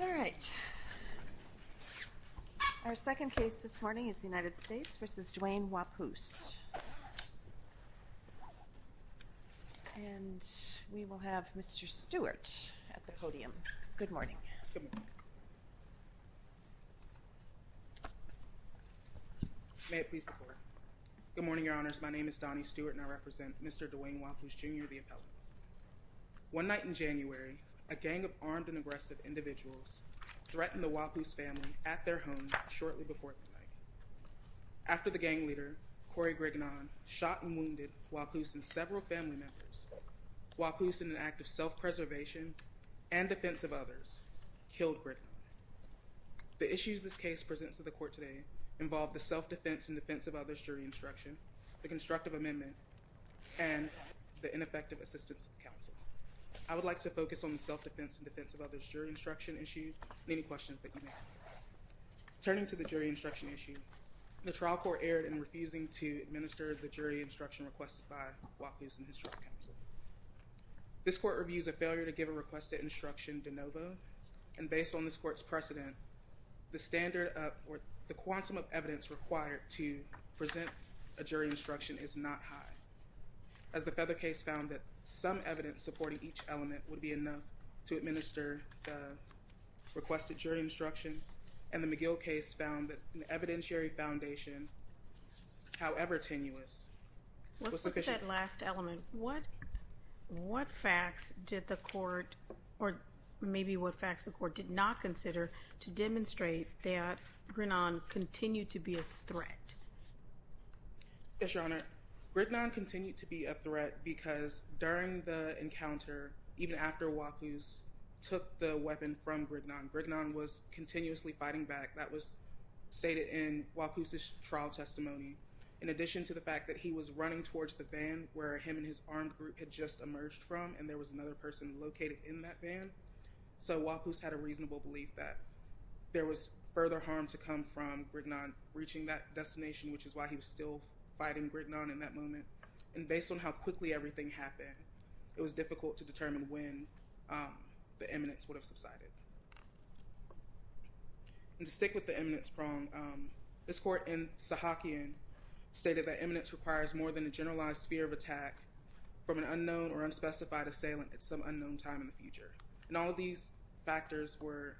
All right. Our second case this morning is United States v. Duane Waupoose, and we will have Mr. Stewart at the podium. Good morning. May it please the Court. Good morning, Your Honors. My name is Donnie Stewart, and I represent Mr. Duane Waupoose, Jr., the Waupoose family at their home shortly before the night. After the gang leader, Cory Grignon, shot and wounded Waupoose and several family members, Waupoose, in an act of self-preservation and defense of others, killed Grignon. The issues this case presents to the Court today involve the self-defense and defense of others jury instruction, the constructive amendment, and the ineffective assistance of counsel. I would like to focus on the self-defense and defense of others jury instruction issue and any questions that you may have. Turning to the jury instruction issue, the trial court erred in refusing to administer the jury instruction requested by Waupoose and his trial counsel. This court reviews a failure to give a requested instruction de novo, and based on this court's precedent, the standard of, or the quantum of evidence required to present a jury instruction is not high. As the Feather case found that some evidence supporting each element would be enough to administer the requested jury instruction, and the McGill case found that an evidentiary foundation, however tenuous, was sufficient. Let's look at that last element. What facts did the court, or maybe what facts the court, did not consider to demonstrate that Grignon continued to be a threat? Yes, Your Honor. Grignon continued to be a threat because during the encounter, even after Waupoose took the weapon from Grignon, Grignon was continuously fighting back. That was stated in Waupoose's trial testimony. In addition to the fact that he was running towards the van where him and his armed group had just emerged from, and there was another person located in that van, so Waupoose had a reasonable belief that there was further harm to come from Grignon reaching that destination, which is why he was still fighting Grignon in that moment. And based on how quickly everything happened, it was difficult to determine when the eminence would have subsided. And to stick with the eminence prong, this court in Sahakian stated that eminence requires more than a generalized fear of attack from an unknown or unspecified assailant at some unknown time in the future. And all of these factors were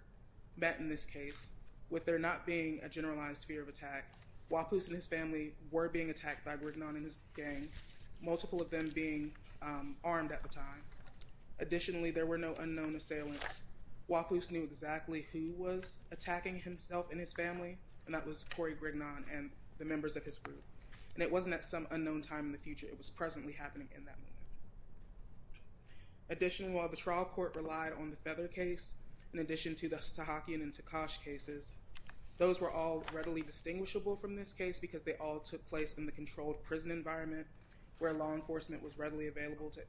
met in this case. With there not being a generalized fear of attack, Waupoose and his family were being attacked by Grignon and his gang, multiple of them being armed at the time. Additionally, there were no unknown assailants. Waupoose knew exactly who was attacking himself and his family, and that was Corey Grignon and the members of his group. And it wasn't at some unknown time in the future, it was presently happening in that moment. Additionally, while the trial court relied on the Feather case, in addition to the Sahakian and Tekosh cases, those were all readily distinguishable from this case because they all took place in the controlled prison environment where law enforcement was readily available to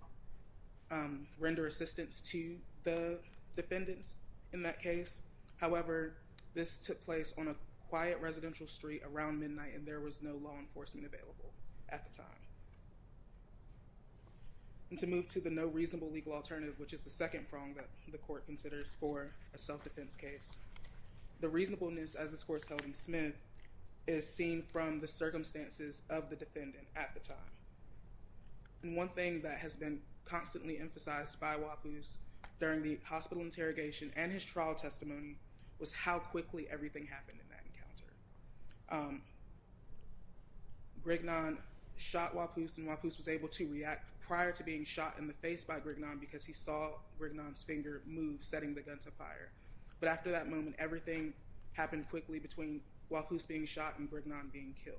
render assistance to the defendants in that case. However, this took place on a quiet residential street around midnight and there was no law enforcement available at the time. And to move to the no reasonable legal alternative, which is the second prong that the court considers for a self-defense case, the reasonableness as this court is held in Smith is seen from the circumstances of the defendant at the time. And one thing that has been constantly emphasized by Waupoose during the hospital interrogation and his trial testimony was how quickly everything happened in that encounter. Grignon shot Waupoose and Waupoose was able to react prior to being shot in the face by Grignon because he saw Grignon's finger move setting the gun to fire. But after that moment, everything happened quickly between Waupoose being shot and Grignon being killed.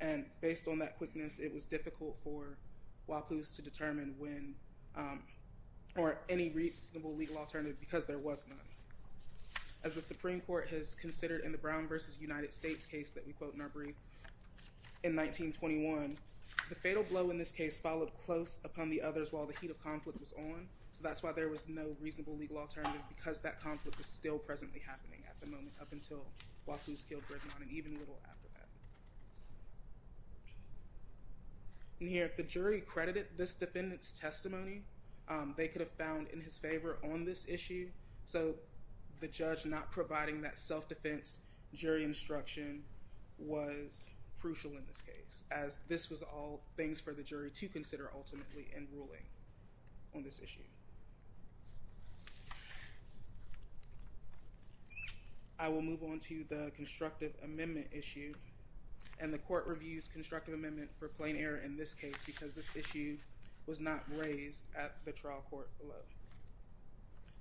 And based on that quickness, it was difficult for Waupoose to determine when or any reasonable legal alternative because there was none. As the Supreme Court has considered in the Brown v. United States case that we quote in our brief in 1921, the fatal blow in this case followed close upon the others while the heat of conflict was on. So that's why there was no reasonable legal alternative because that conflict was still presently happening at the moment up until Waupoose killed Grignon and even a little after that. And here, if the jury credited this defendant's testimony, they could have found in his favor on this issue. So the judge not providing that self-defense jury instruction was crucial in this case as this was all things for the jury to consider ultimately in ruling on this issue. I will move on to the constructive amendment issue and the court reviews constructive amendment for plain error in this case because this issue was not raised at the trial court below.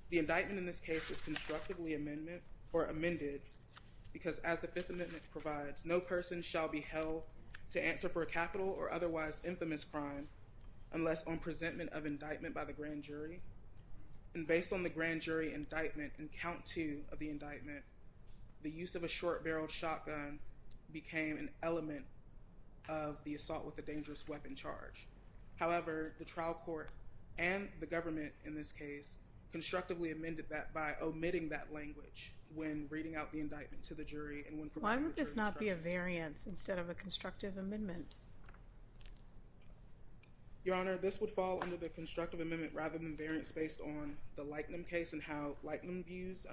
The indictment in this case was constructively amended because as the Fifth Amendment provides, no person shall be held to answer for a capital or otherwise infamous crime unless on presentment of indictment by the grand jury. And based on the grand jury indictment and count two of the indictment, the use of a short-barreled shotgun became an element of the assault with a dangerous weapon charge. However, the trial court and the government in this case constructively amended that by omitting that language when reading out the indictment to the jury. Why would this not be a variance instead of a constructive amendment? Your Honor, this would fall under the constructive amendment rather than variance based on the Lightnum case and how Lightnum views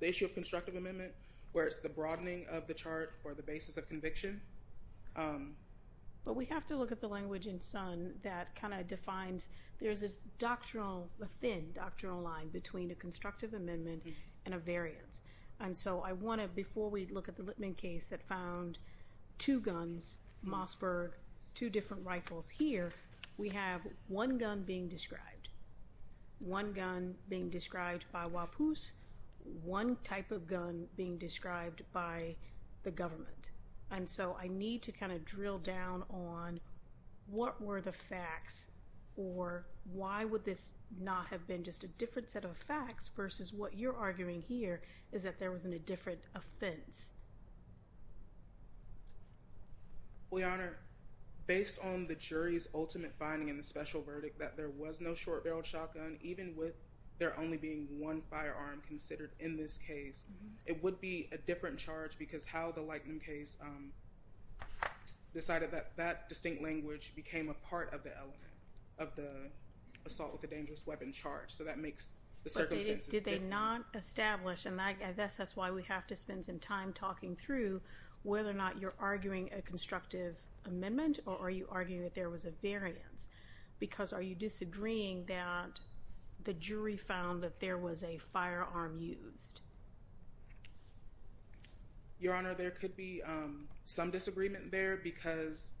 the issue of constructive amendment where it's the broadening of the chart or the basis of conviction. But we have to look at the language in Sun that kind of defines, there's a doctrinal, a thin doctrinal line between a constructive amendment and a variance. And so I want to, before we look at the Litman case that found two guns, Mossberg, two different rifles here, we have one gun being described, one gun being described by Wapus, one type of gun being described by the government. And so I need to kind of drill down on what were the facts or why would this not have been just a different set of facts versus what you're arguing here is that there was a different offense? Your Honor, based on the jury's ultimate finding in the special verdict that there was no short barreled shotgun, even with there only being one firearm considered in this case, it would be a different charge because how the Lightnum case decided that that distinct language became a part of the element of the assault with a dangerous weapon charge. So that makes the circumstances. Did they not establish, and I guess that's why we have to spend some time talking through, whether or not you're arguing a constructive amendment or are you arguing that there was a variance? Because are you disagreeing that the jury found that there was a firearm used? Your Honor, there could be some disagreement there because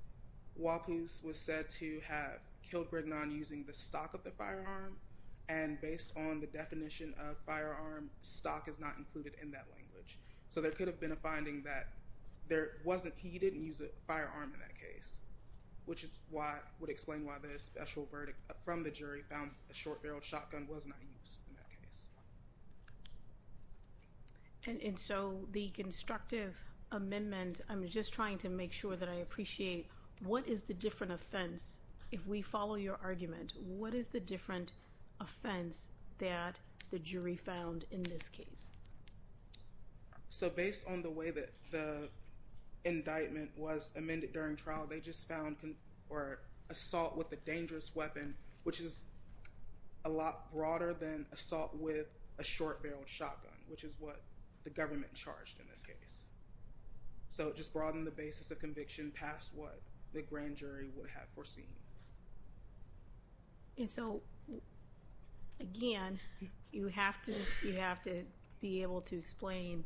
Wapus was said to have killed Grignon using the stock of the firearm and based on the definition of firearm, stock is not included in that language. So there could have been a finding that there wasn't, he didn't use a firearm in that case, which is what would explain why the special verdict from the jury found a short barreled shotgun was not used in that case. And so the constructive amendment, I'm just trying to make sure that I appreciate, what is the different offense, if we follow your argument, what is the different offense that the jury found in this case? So based on the way that the indictment was amended during trial, they just found assault with a dangerous weapon, which is a lot broader than assault with a short barreled shotgun, which is what the government charged in this case. So it just broadened the basis of conviction past what the grand jury would have foreseen. And so again, you have to, you have to be able to explain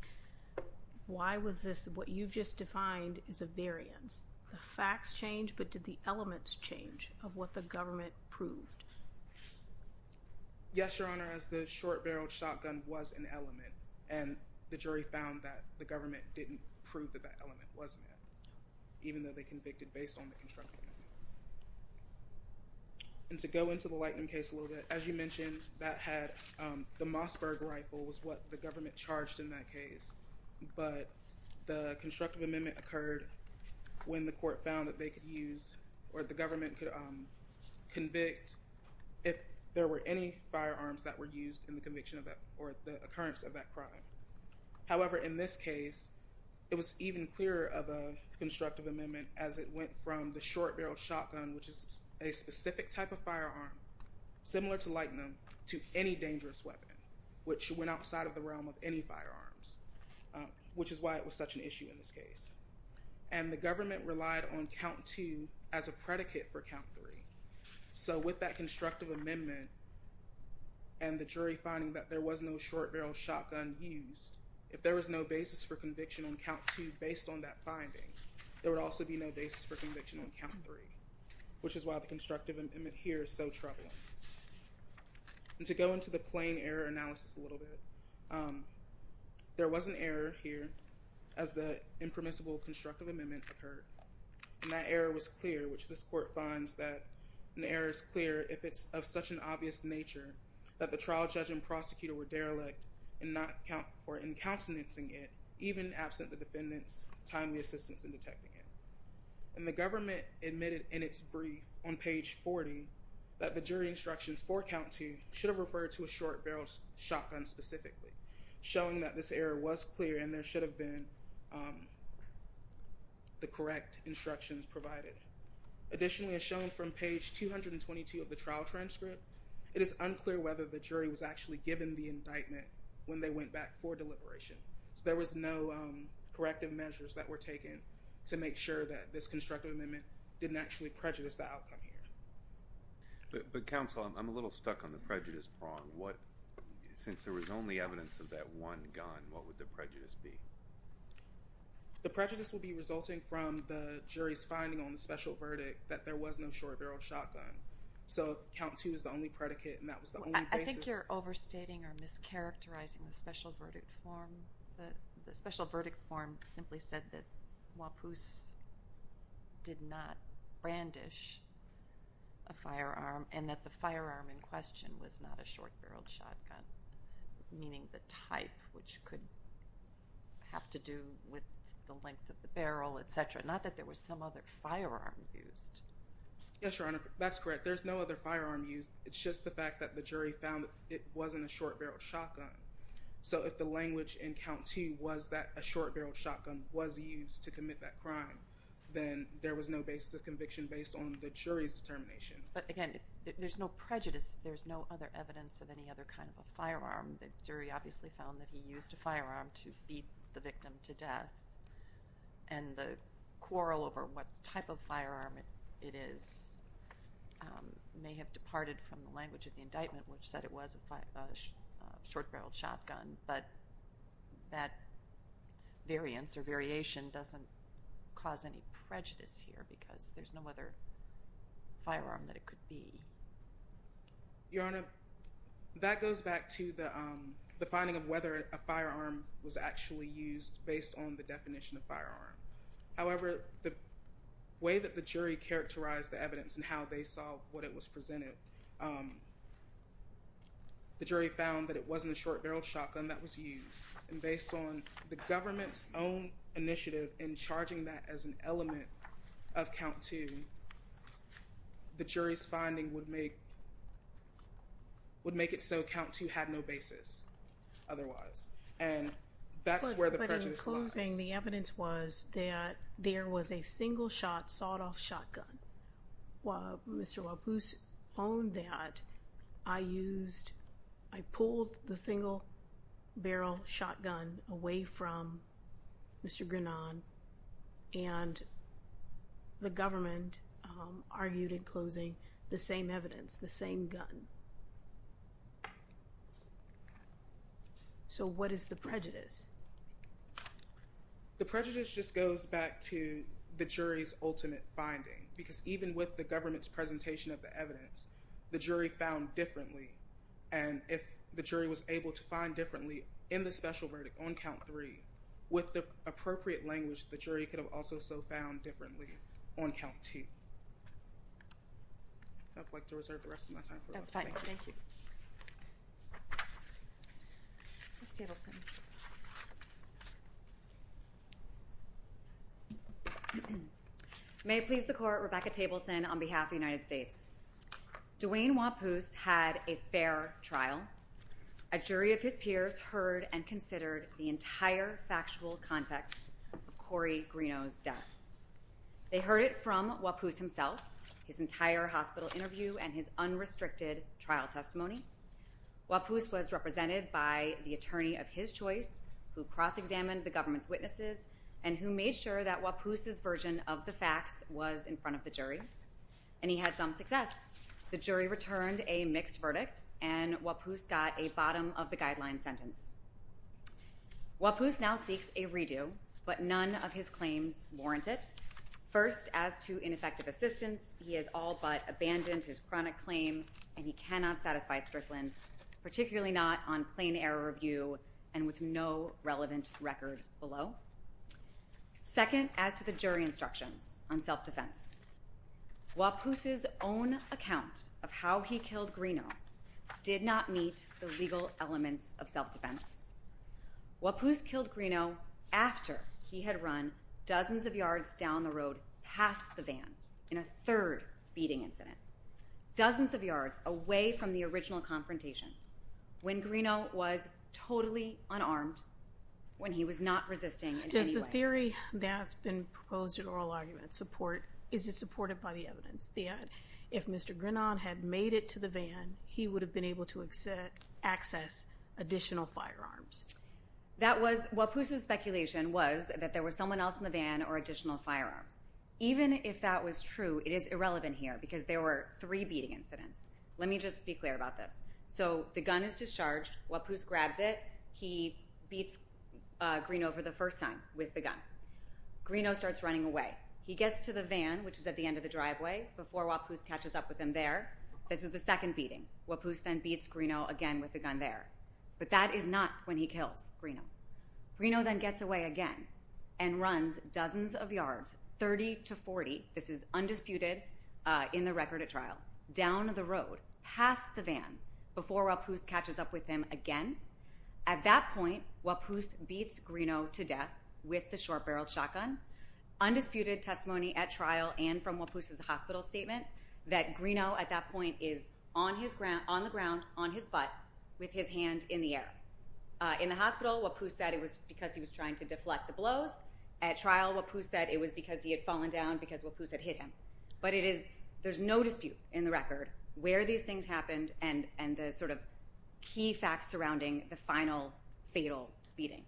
why was this, what you've just defined is a variance. The facts change, but did the elements change of what the government proved? Yes, Your Honor, as the short barreled shotgun was an element, and the jury found that the government didn't prove that that element wasn't there, even though they convicted based on the constructive amendment. And to go into the Lightening case a little bit, as you mentioned, that had, the Mossberg rifle was what the government charged in that case, but the constructive amendment occurred when the court found that they could use or the government could convict if there were any firearms that were used in the conviction of that or the occurrence of that crime. However, in this case, it was even clearer of a constructive amendment as it went from the short barreled shotgun, which is a specific type of firearm, similar to Lightening, to any dangerous weapon, which went outside of the realm of any firearms, which is why it was such an issue in this case. And the government relied on count two as a predicate for count three. So with that constructive amendment, and the jury finding that there was no short barreled shotgun used, if there was no basis for conviction on count two, based on that finding, there would also be no basis for conviction on count three, which is why the constructive amendment here is so troubling. And to go into the plain error analysis a little bit. There was an error here, as the impermissible constructive amendment occurred. And that error was clear, which this court finds that an error is clear if it's of such an obvious nature that the trial judge and prosecutor were derelict in not count or in countenancing it, even absent the defendants timely assistance in detecting it. And the government admitted in its brief on page 40, that the jury instructions for count two should have referred to a short barreled shotgun specifically, showing that this error was clear, and there should have been the correct instructions provided. Additionally, as shown from page 222 of the trial transcript, it is unclear whether the jury was actually given the indictment when they went back for deliberation. So there was no corrective measures that were taken to make sure that this constructive amendment didn't actually prejudice the outcome here. But counsel, I'm a little stuck on the prejudice prong. What, since there was only evidence of that one gun, what would the prejudice be? The prejudice would be resulting from the jury's finding on the special verdict that there was no short barreled shotgun. So count two is the only predicate, and that was the only basis. I think you're overstating or mischaracterizing the special verdict form. The special verdict form simply said that Wapoose did not brandish a firearm, and that the firearm in question was not a short barreled shotgun, meaning the type, which could have to do with the length of the barrel, etc. Not that there was some other firearm used. Yes, Your Honor, that's correct. There's no other firearm used. It's just the fact that the jury found it wasn't a short barreled shotgun was used to commit that crime, then there was no basis of conviction based on the jury's determination. But again, there's no prejudice. There's no other evidence of any other kind of a firearm. The jury obviously found that he used a firearm to beat the victim to death. And the quarrel over what type of firearm it is may have departed from the variance or variation doesn't cause any prejudice here because there's no other firearm that it could be. Your Honor, that goes back to the finding of whether a firearm was actually used based on the definition of firearm. However, the way that the jury characterized the evidence and how they saw what it was presented, the jury found that it wasn't a short barreled shotgun that was used. And based on the government's own initiative in charging that as an element of count two, the jury's finding would make it so count two had no basis otherwise. And that's where the prejudice lies. I was saying the evidence was that there was a single shot sawed off shotgun. While Mr. Walpoose owned that, I used, I pulled the single barrel shotgun away from Mr. Grenon and the government argued in closing the same evidence, the same gun. So what is the prejudice? The prejudice just goes back to the jury's ultimate finding, because even with the government's presentation of the evidence, the jury found differently. And if the jury was able to find differently in the special verdict on count three, with the appropriate language, the jury could have also so found differently on count two. I'd like to reserve the rest of my time. That's fine. Thank you. May it please the court, Rebecca Tableson on behalf of the United States. Dwayne Walpoose had a fair trial. A jury of his peers heard and considered the entire factual context of Corey Greno's death. They heard it from Walpoose himself, his entire hospital interview and his unrestricted trial testimony. Walpoose was represented by the attorney of his choice who cross examined the government's witnesses and who made sure that Walpoose's version of the facts was in front of the jury. And he had some success. The jury returned a mixed verdict and Walpoose got a bottom of the guideline sentence. Walpoose now seeks a redo, but none of his claims warrant it. First, as to ineffective assistance, he has all but abandoned his chronic claim and he cannot satisfy Strickland, particularly not on plain error review and with no relevant record below. Second, as to the jury instructions on self-defense, Walpoose's own account of how he killed Greno did not meet the legal elements of self-defense. Walpoose killed Greno after he had run dozens of yards down the road past the van in a third beating incident. Dozens of yards away from the original confrontation when Greno was totally unarmed, when he was not resisting in any way. Does the theory that's been proposed in oral argument support, is it supported by the evidence that if Mr. Grenon had made it to the van, he would have been able to access additional firearms? That was, Walpoose's speculation was that there was someone else in the van or additional firearms. Even if that was true, it is irrelevant here because there were three beating incidents. Let me just be clear about this. So, the gun is discharged, Walpoose grabs it, he beats Greno for the first time with the gun. Greno starts running away. He gets to the van, which is at the end of the driveway, before Walpoose catches up with him there. This is the second beating. Walpoose then beats Greno again with the gun there. But that is not when he kills Greno. Greno then gets away again and runs dozens of yards, 30 to 40. This is undisputed in the record at trial. Down the road, past the van, before Walpoose catches up with him again. At that point, Walpoose beats Greno to death with the short-barreled shotgun. Undisputed testimony at trial and from Walpoose's hospital statement that Greno at that point is on the ground, on his butt, with his hand in the air. In the hospital, Walpoose said it was because he was trying to deflect the blows. At trial, Walpoose said it was because he had fallen down because Walpoose had hit him. But there's no dispute in the record where these things happened and the sort of key facts surrounding the final, fatal beating.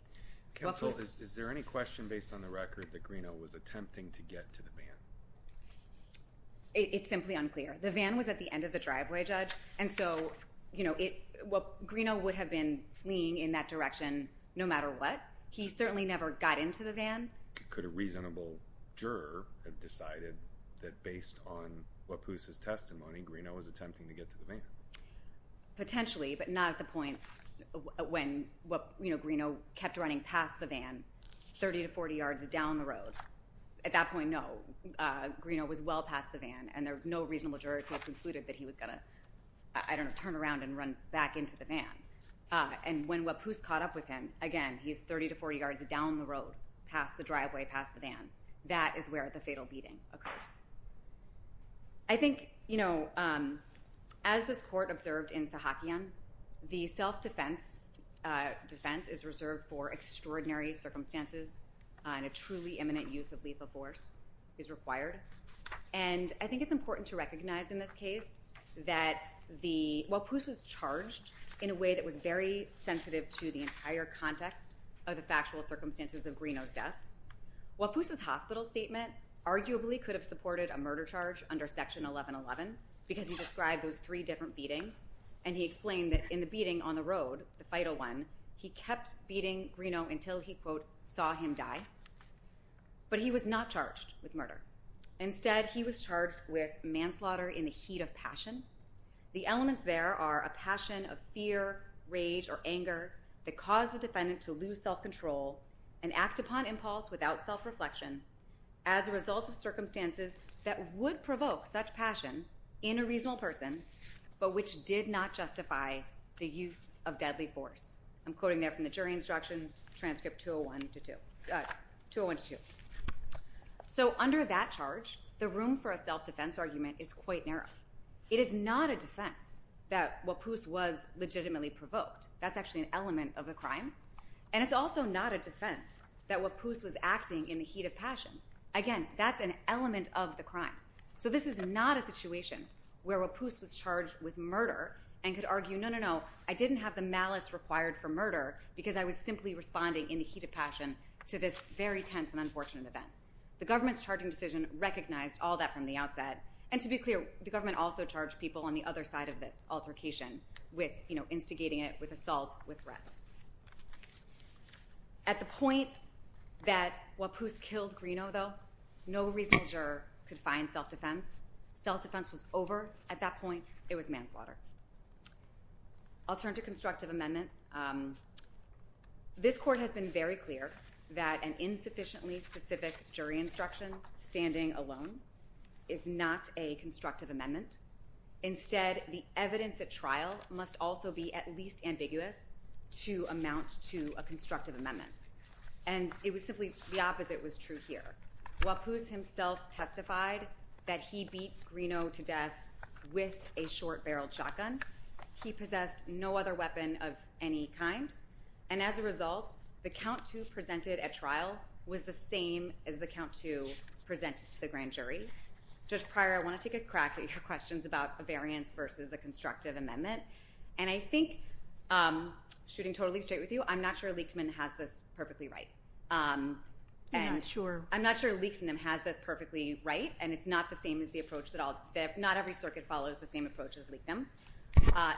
Counsel, is there any question based on the record that Greno was attempting to get to the van? It's simply unclear. And so, you know, Greno would have been fleeing in that direction no matter what. He certainly never got into the van. Could a reasonable juror have decided that based on Walpoose's testimony, Greno was attempting to get to the van? Potentially, but not at the point when, you know, Greno kept running past the van 30 to 40 yards down the road. At that point, no. Greno was well past the van and no reasonable juror could have concluded that he was going to, I don't know, turn around and run back into the van. And when Walpoose caught up with him, again, he's 30 to 40 yards down the road, past the driveway, past the van. That is where the fatal beating occurs. I think, you know, as this court observed in Sahakian, the self-defense defense is reserved for extraordinary circumstances and a truly eminent use of lethal force is required. And I think it's important to recognize in this case that Walpoose was charged in a way that was very sensitive to the entire context of the factual circumstances of Greno's death. Walpoose's hospital statement arguably could have supported a murder charge under Section 1111 because he described those three different beatings. And he explained that in the beating on the road, the fatal one, he kept beating Greno until he, quote, saw him die. But he was not charged with murder. Instead, he was charged with manslaughter in the heat of passion. The elements there are a passion of fear, rage, or anger that caused the defendant to lose self-control and act upon impulse without self-reflection as a result of circumstances that would provoke such passion in a reasonable person, but which did not justify the use of deadly force. I'm quoting there from the jury instructions, transcript 201-2. So under that charge, the room for a self-defense argument is quite narrow. It is not a defense that Walpoose was legitimately provoked. That's actually an element of the crime. And it's also not a defense that Walpoose was acting in the heat of passion. Again, that's an element of the crime. So this is not a situation where Walpoose was charged with murder and could argue, no, no, no, I didn't have the malice required for murder because I was simply responding in the heat of passion to this very tense and unfortunate event. And to be clear, the government also charged people on the other side of this altercation with instigating it, with assault, with threats. At the point that Walpoose killed Greeno, though, no reasonable juror could find self-defense. Self-defense was over at that point. It was manslaughter. I'll turn to constructive amendment. This court has been very clear that an insufficiently specific jury instruction, standing alone, is not a constructive amendment. Instead, the evidence at trial must also be at least ambiguous to amount to a constructive amendment. And it was simply the opposite was true here. Walpoose himself testified that he beat Greeno to death with a short-barreled shotgun. He possessed no other weapon of any kind. And as a result, the count to present it at trial was the same as the count to present it to the grand jury. Judge Pryor, I want to take a crack at your questions about a variance versus a constructive amendment. And I think, shooting totally straight with you, I'm not sure Leichtman has this perfectly right. You're not sure? I'm not sure Leichtman has this perfectly right. And it's not the same as the approach at all. Not every circuit follows the same approach as Leichtman.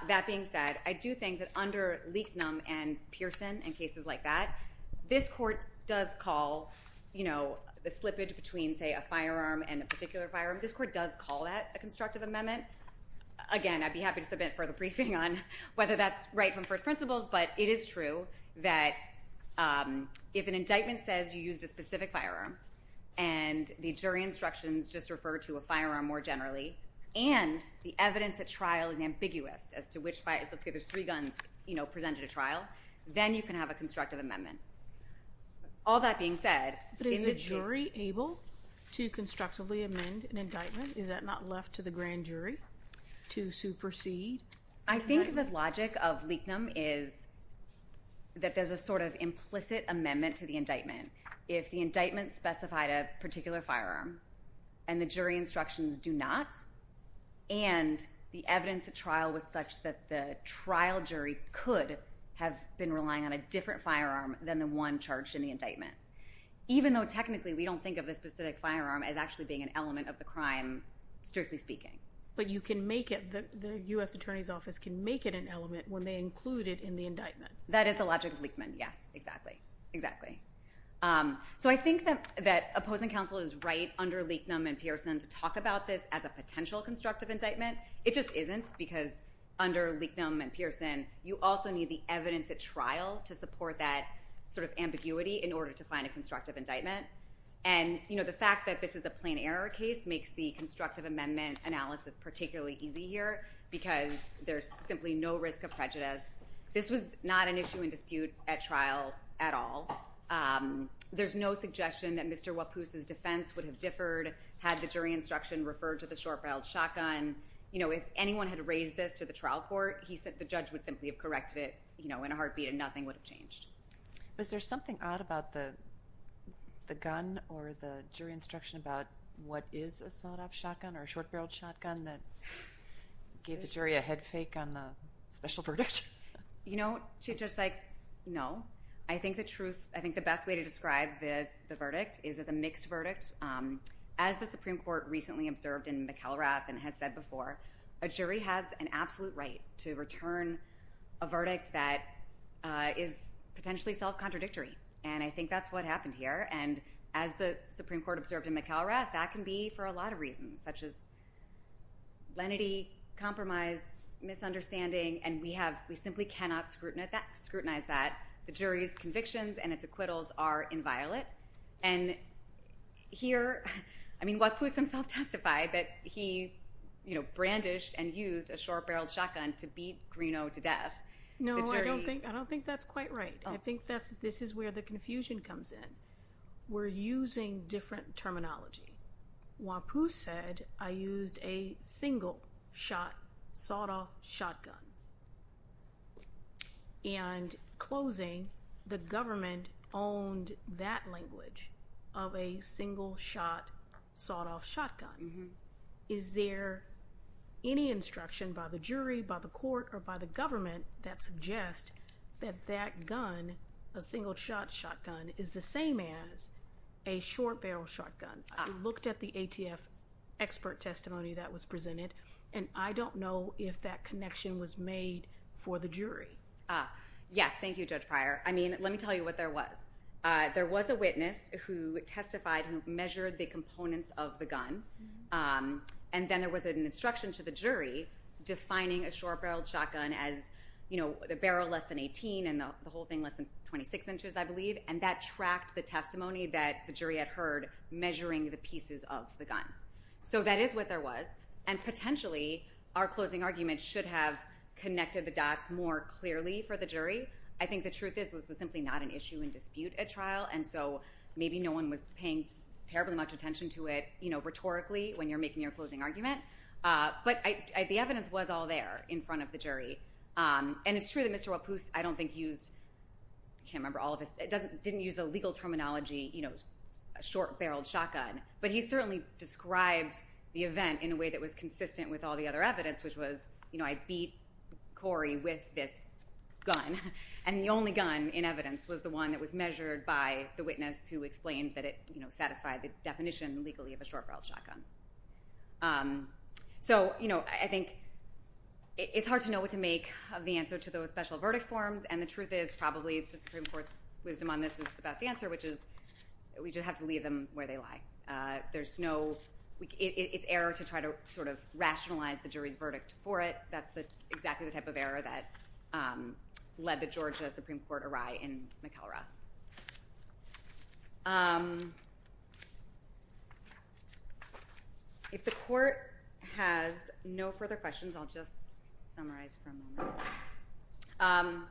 That being said, I do think that under Leichtman and Pearson and cases like that, this court does call the slippage between, say, a firearm and a particular firearm, this court does call that a constructive amendment. Again, I'd be happy to submit further briefing on whether that's right from first principles. But it is true that if an indictment says you used a specific firearm, and the jury instructions just refer to a firearm more generally, and the evidence at trial is ambiguous as to which, let's say there's three guns presented at trial, then you can have a constructive amendment. All that being said— But is the jury able to constructively amend an indictment? Is that not left to the grand jury to supersede? I think the logic of Leichtman is that there's a sort of implicit amendment to the indictment. If the indictment specified a particular firearm and the jury instructions do not, and the evidence at trial was such that the trial jury could have been relying on a different firearm than the one charged in the indictment, even though technically we don't think of the specific firearm as actually being an element of the crime, strictly speaking. But you can make it—the U.S. Attorney's Office can make it an element when they include it in the indictment. That is the logic of Leichtman. Yes, exactly. Exactly. So I think that opposing counsel is right under Leichtman and Pearson to talk about this as a potential constructive indictment. It just isn't because under Leichtman and Pearson, you also need the evidence at trial to support that sort of ambiguity in order to find a constructive indictment. And the fact that this is a plain error case makes the constructive amendment analysis particularly easy here because there's simply no risk of prejudice. This was not an issue in dispute at trial at all. There's no suggestion that Mr. Wapus' defense would have differed had the jury instruction referred to the short-barreled shotgun. If anyone had raised this to the trial court, the judge would simply have corrected it in a heartbeat and nothing would have changed. Was there something odd about the gun or the jury instruction about what is a sawed-off shotgun or a short-barreled shotgun that gave the jury a head fake on the special verdict? You know, Chief Judge Sykes, no. I think the truth—I think the best way to describe the verdict is it's a mixed verdict. As the Supreme Court recently observed in McElrath and has said before, a jury has an absolute right to return a verdict that is potentially self-contradictory. And I think that's what happened here. And as the Supreme Court observed in McElrath, that can be for a lot of reasons, such as lenity, compromise, misunderstanding, and we simply cannot scrutinize that. The jury's convictions and its acquittals are inviolate. And here—I mean, Wapus himself testified that he, you know, brandished and used a short-barreled shotgun to beat Greeneau to death. No, I don't think that's quite right. I think this is where the confusion comes in. We're using different terminology. Wapus said, I used a single-shot, sawed-off shotgun. And closing, the government owned that language of a single-shot, sawed-off shotgun. Is there any instruction by the jury, by the court, or by the government that suggests that that gun, a single-shot shotgun, is the same as a short-barreled shotgun? I looked at the ATF expert testimony that was presented, and I don't know if that connection was made for the jury. Yes, thank you, Judge Pryor. I mean, let me tell you what there was. There was a witness who testified who measured the components of the gun, and then there was an instruction to the jury defining a short-barreled shotgun as, you know, a barrel less than 18 and the whole thing less than 26 inches, I believe, and that tracked the testimony that the jury had heard measuring the pieces of the gun. So that is what there was. And potentially, our closing argument should have connected the dots more clearly for the jury. I think the truth is this was simply not an issue in dispute at trial, and so maybe no one was paying terribly much attention to it, you know, rhetorically when you're making your closing argument. But the evidence was all there in front of the jury. And it's true that Mr. Wapus, I don't think, used – I can't remember all of his – didn't use the legal terminology, you know, short-barreled shotgun, but he certainly described the event in a way that was consistent with all the other evidence, which was, you know, I beat Corey with this gun, and the only gun in evidence was the one that was measured by the witness who explained that it, you know, satisfied the definition legally of a short-barreled shotgun. So, you know, I think it's hard to know what to make of the answer to those special verdict forms, and the truth is probably the Supreme Court's wisdom on this is the best answer, which is we just have to leave them where they lie. There's no – it's error to try to sort of rationalize the jury's verdict for it. That's exactly the type of error that led the Georgia Supreme Court awry in McElrath. If the court has no further questions, I'll just summarize for a moment.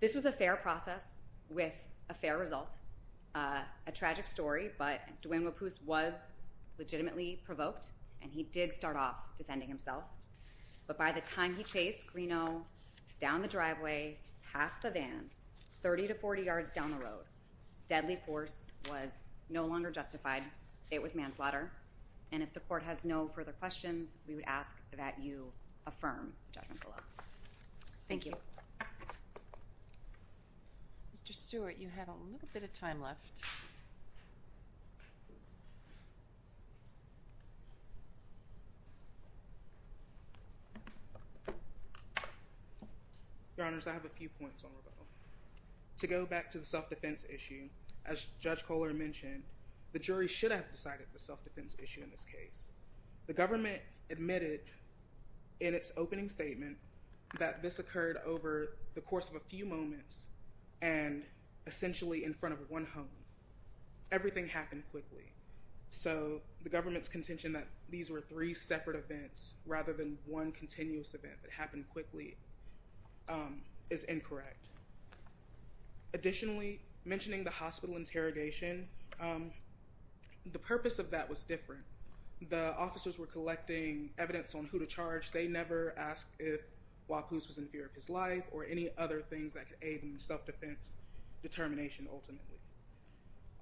This was a fair process with a fair result, a tragic story, but Dwayne Wapoose was legitimately provoked, and he did start off defending himself. But by the time he chased Greeno down the driveway, past the van, 30 to 40 yards down the road, deadly force was no longer justified. It was manslaughter, and if the court has no further questions, we would ask that you affirm judgment below. Thank you. Mr. Stewart, you have a little bit of time left. Your Honors, I have a few points on rebuttal. To go back to the self-defense issue, as Judge Kohler mentioned, the jury should have decided the self-defense issue in this case. The government admitted in its opening statement that this occurred over the course of a few moments and essentially in front of one home. Everything happened quickly, so the government's contention that these were three separate events rather than one continuous event that happened quickly is incorrect. Additionally, mentioning the hospital interrogation, the purpose of that was different. The officers were collecting evidence on who to charge. They never asked if Wapus was in fear of his life or any other things that could aid in self-defense determination ultimately.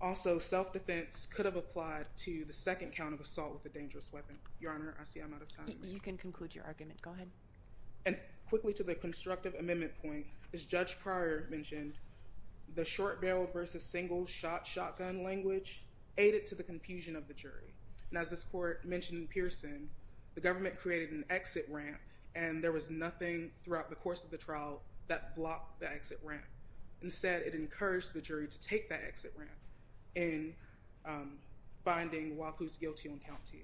Also, self-defense could have applied to the second count of assault with a dangerous weapon. Your Honor, I see I'm out of time. You can conclude your argument. Go ahead. And quickly to the constructive amendment point, as Judge Pryor mentioned, the short-barreled versus single-shot shotgun language aided to the confusion of the jury. And as this court mentioned in Pearson, the government created an exit ramp and there was nothing throughout the course of the trial that blocked the exit ramp. Instead, it encouraged the jury to take that exit ramp in finding Wapus guilty on count two.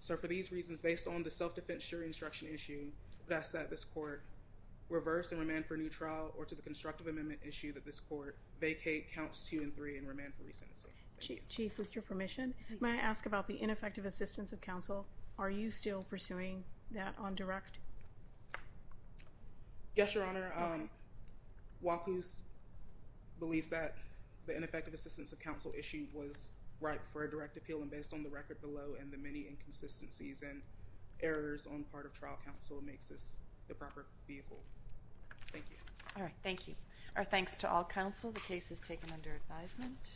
So for these reasons, based on the self-defense jury instruction issue, I would ask that this court reverse and remand for new trial or to the constructive amendment issue that this court vacate counts two and three and remand for re-sentencing. Chief, with your permission, may I ask about the ineffective assistance of counsel? Are you still pursuing that on direct? Yes, Your Honor. Wapus believes that the ineffective assistance of counsel issue was right for a direct appeal and based on the record below and the many inconsistencies and errors on part of trial counsel makes this the proper vehicle. Thank you. All right. Thank you. Our thanks to all counsel. The case is taken under advisement.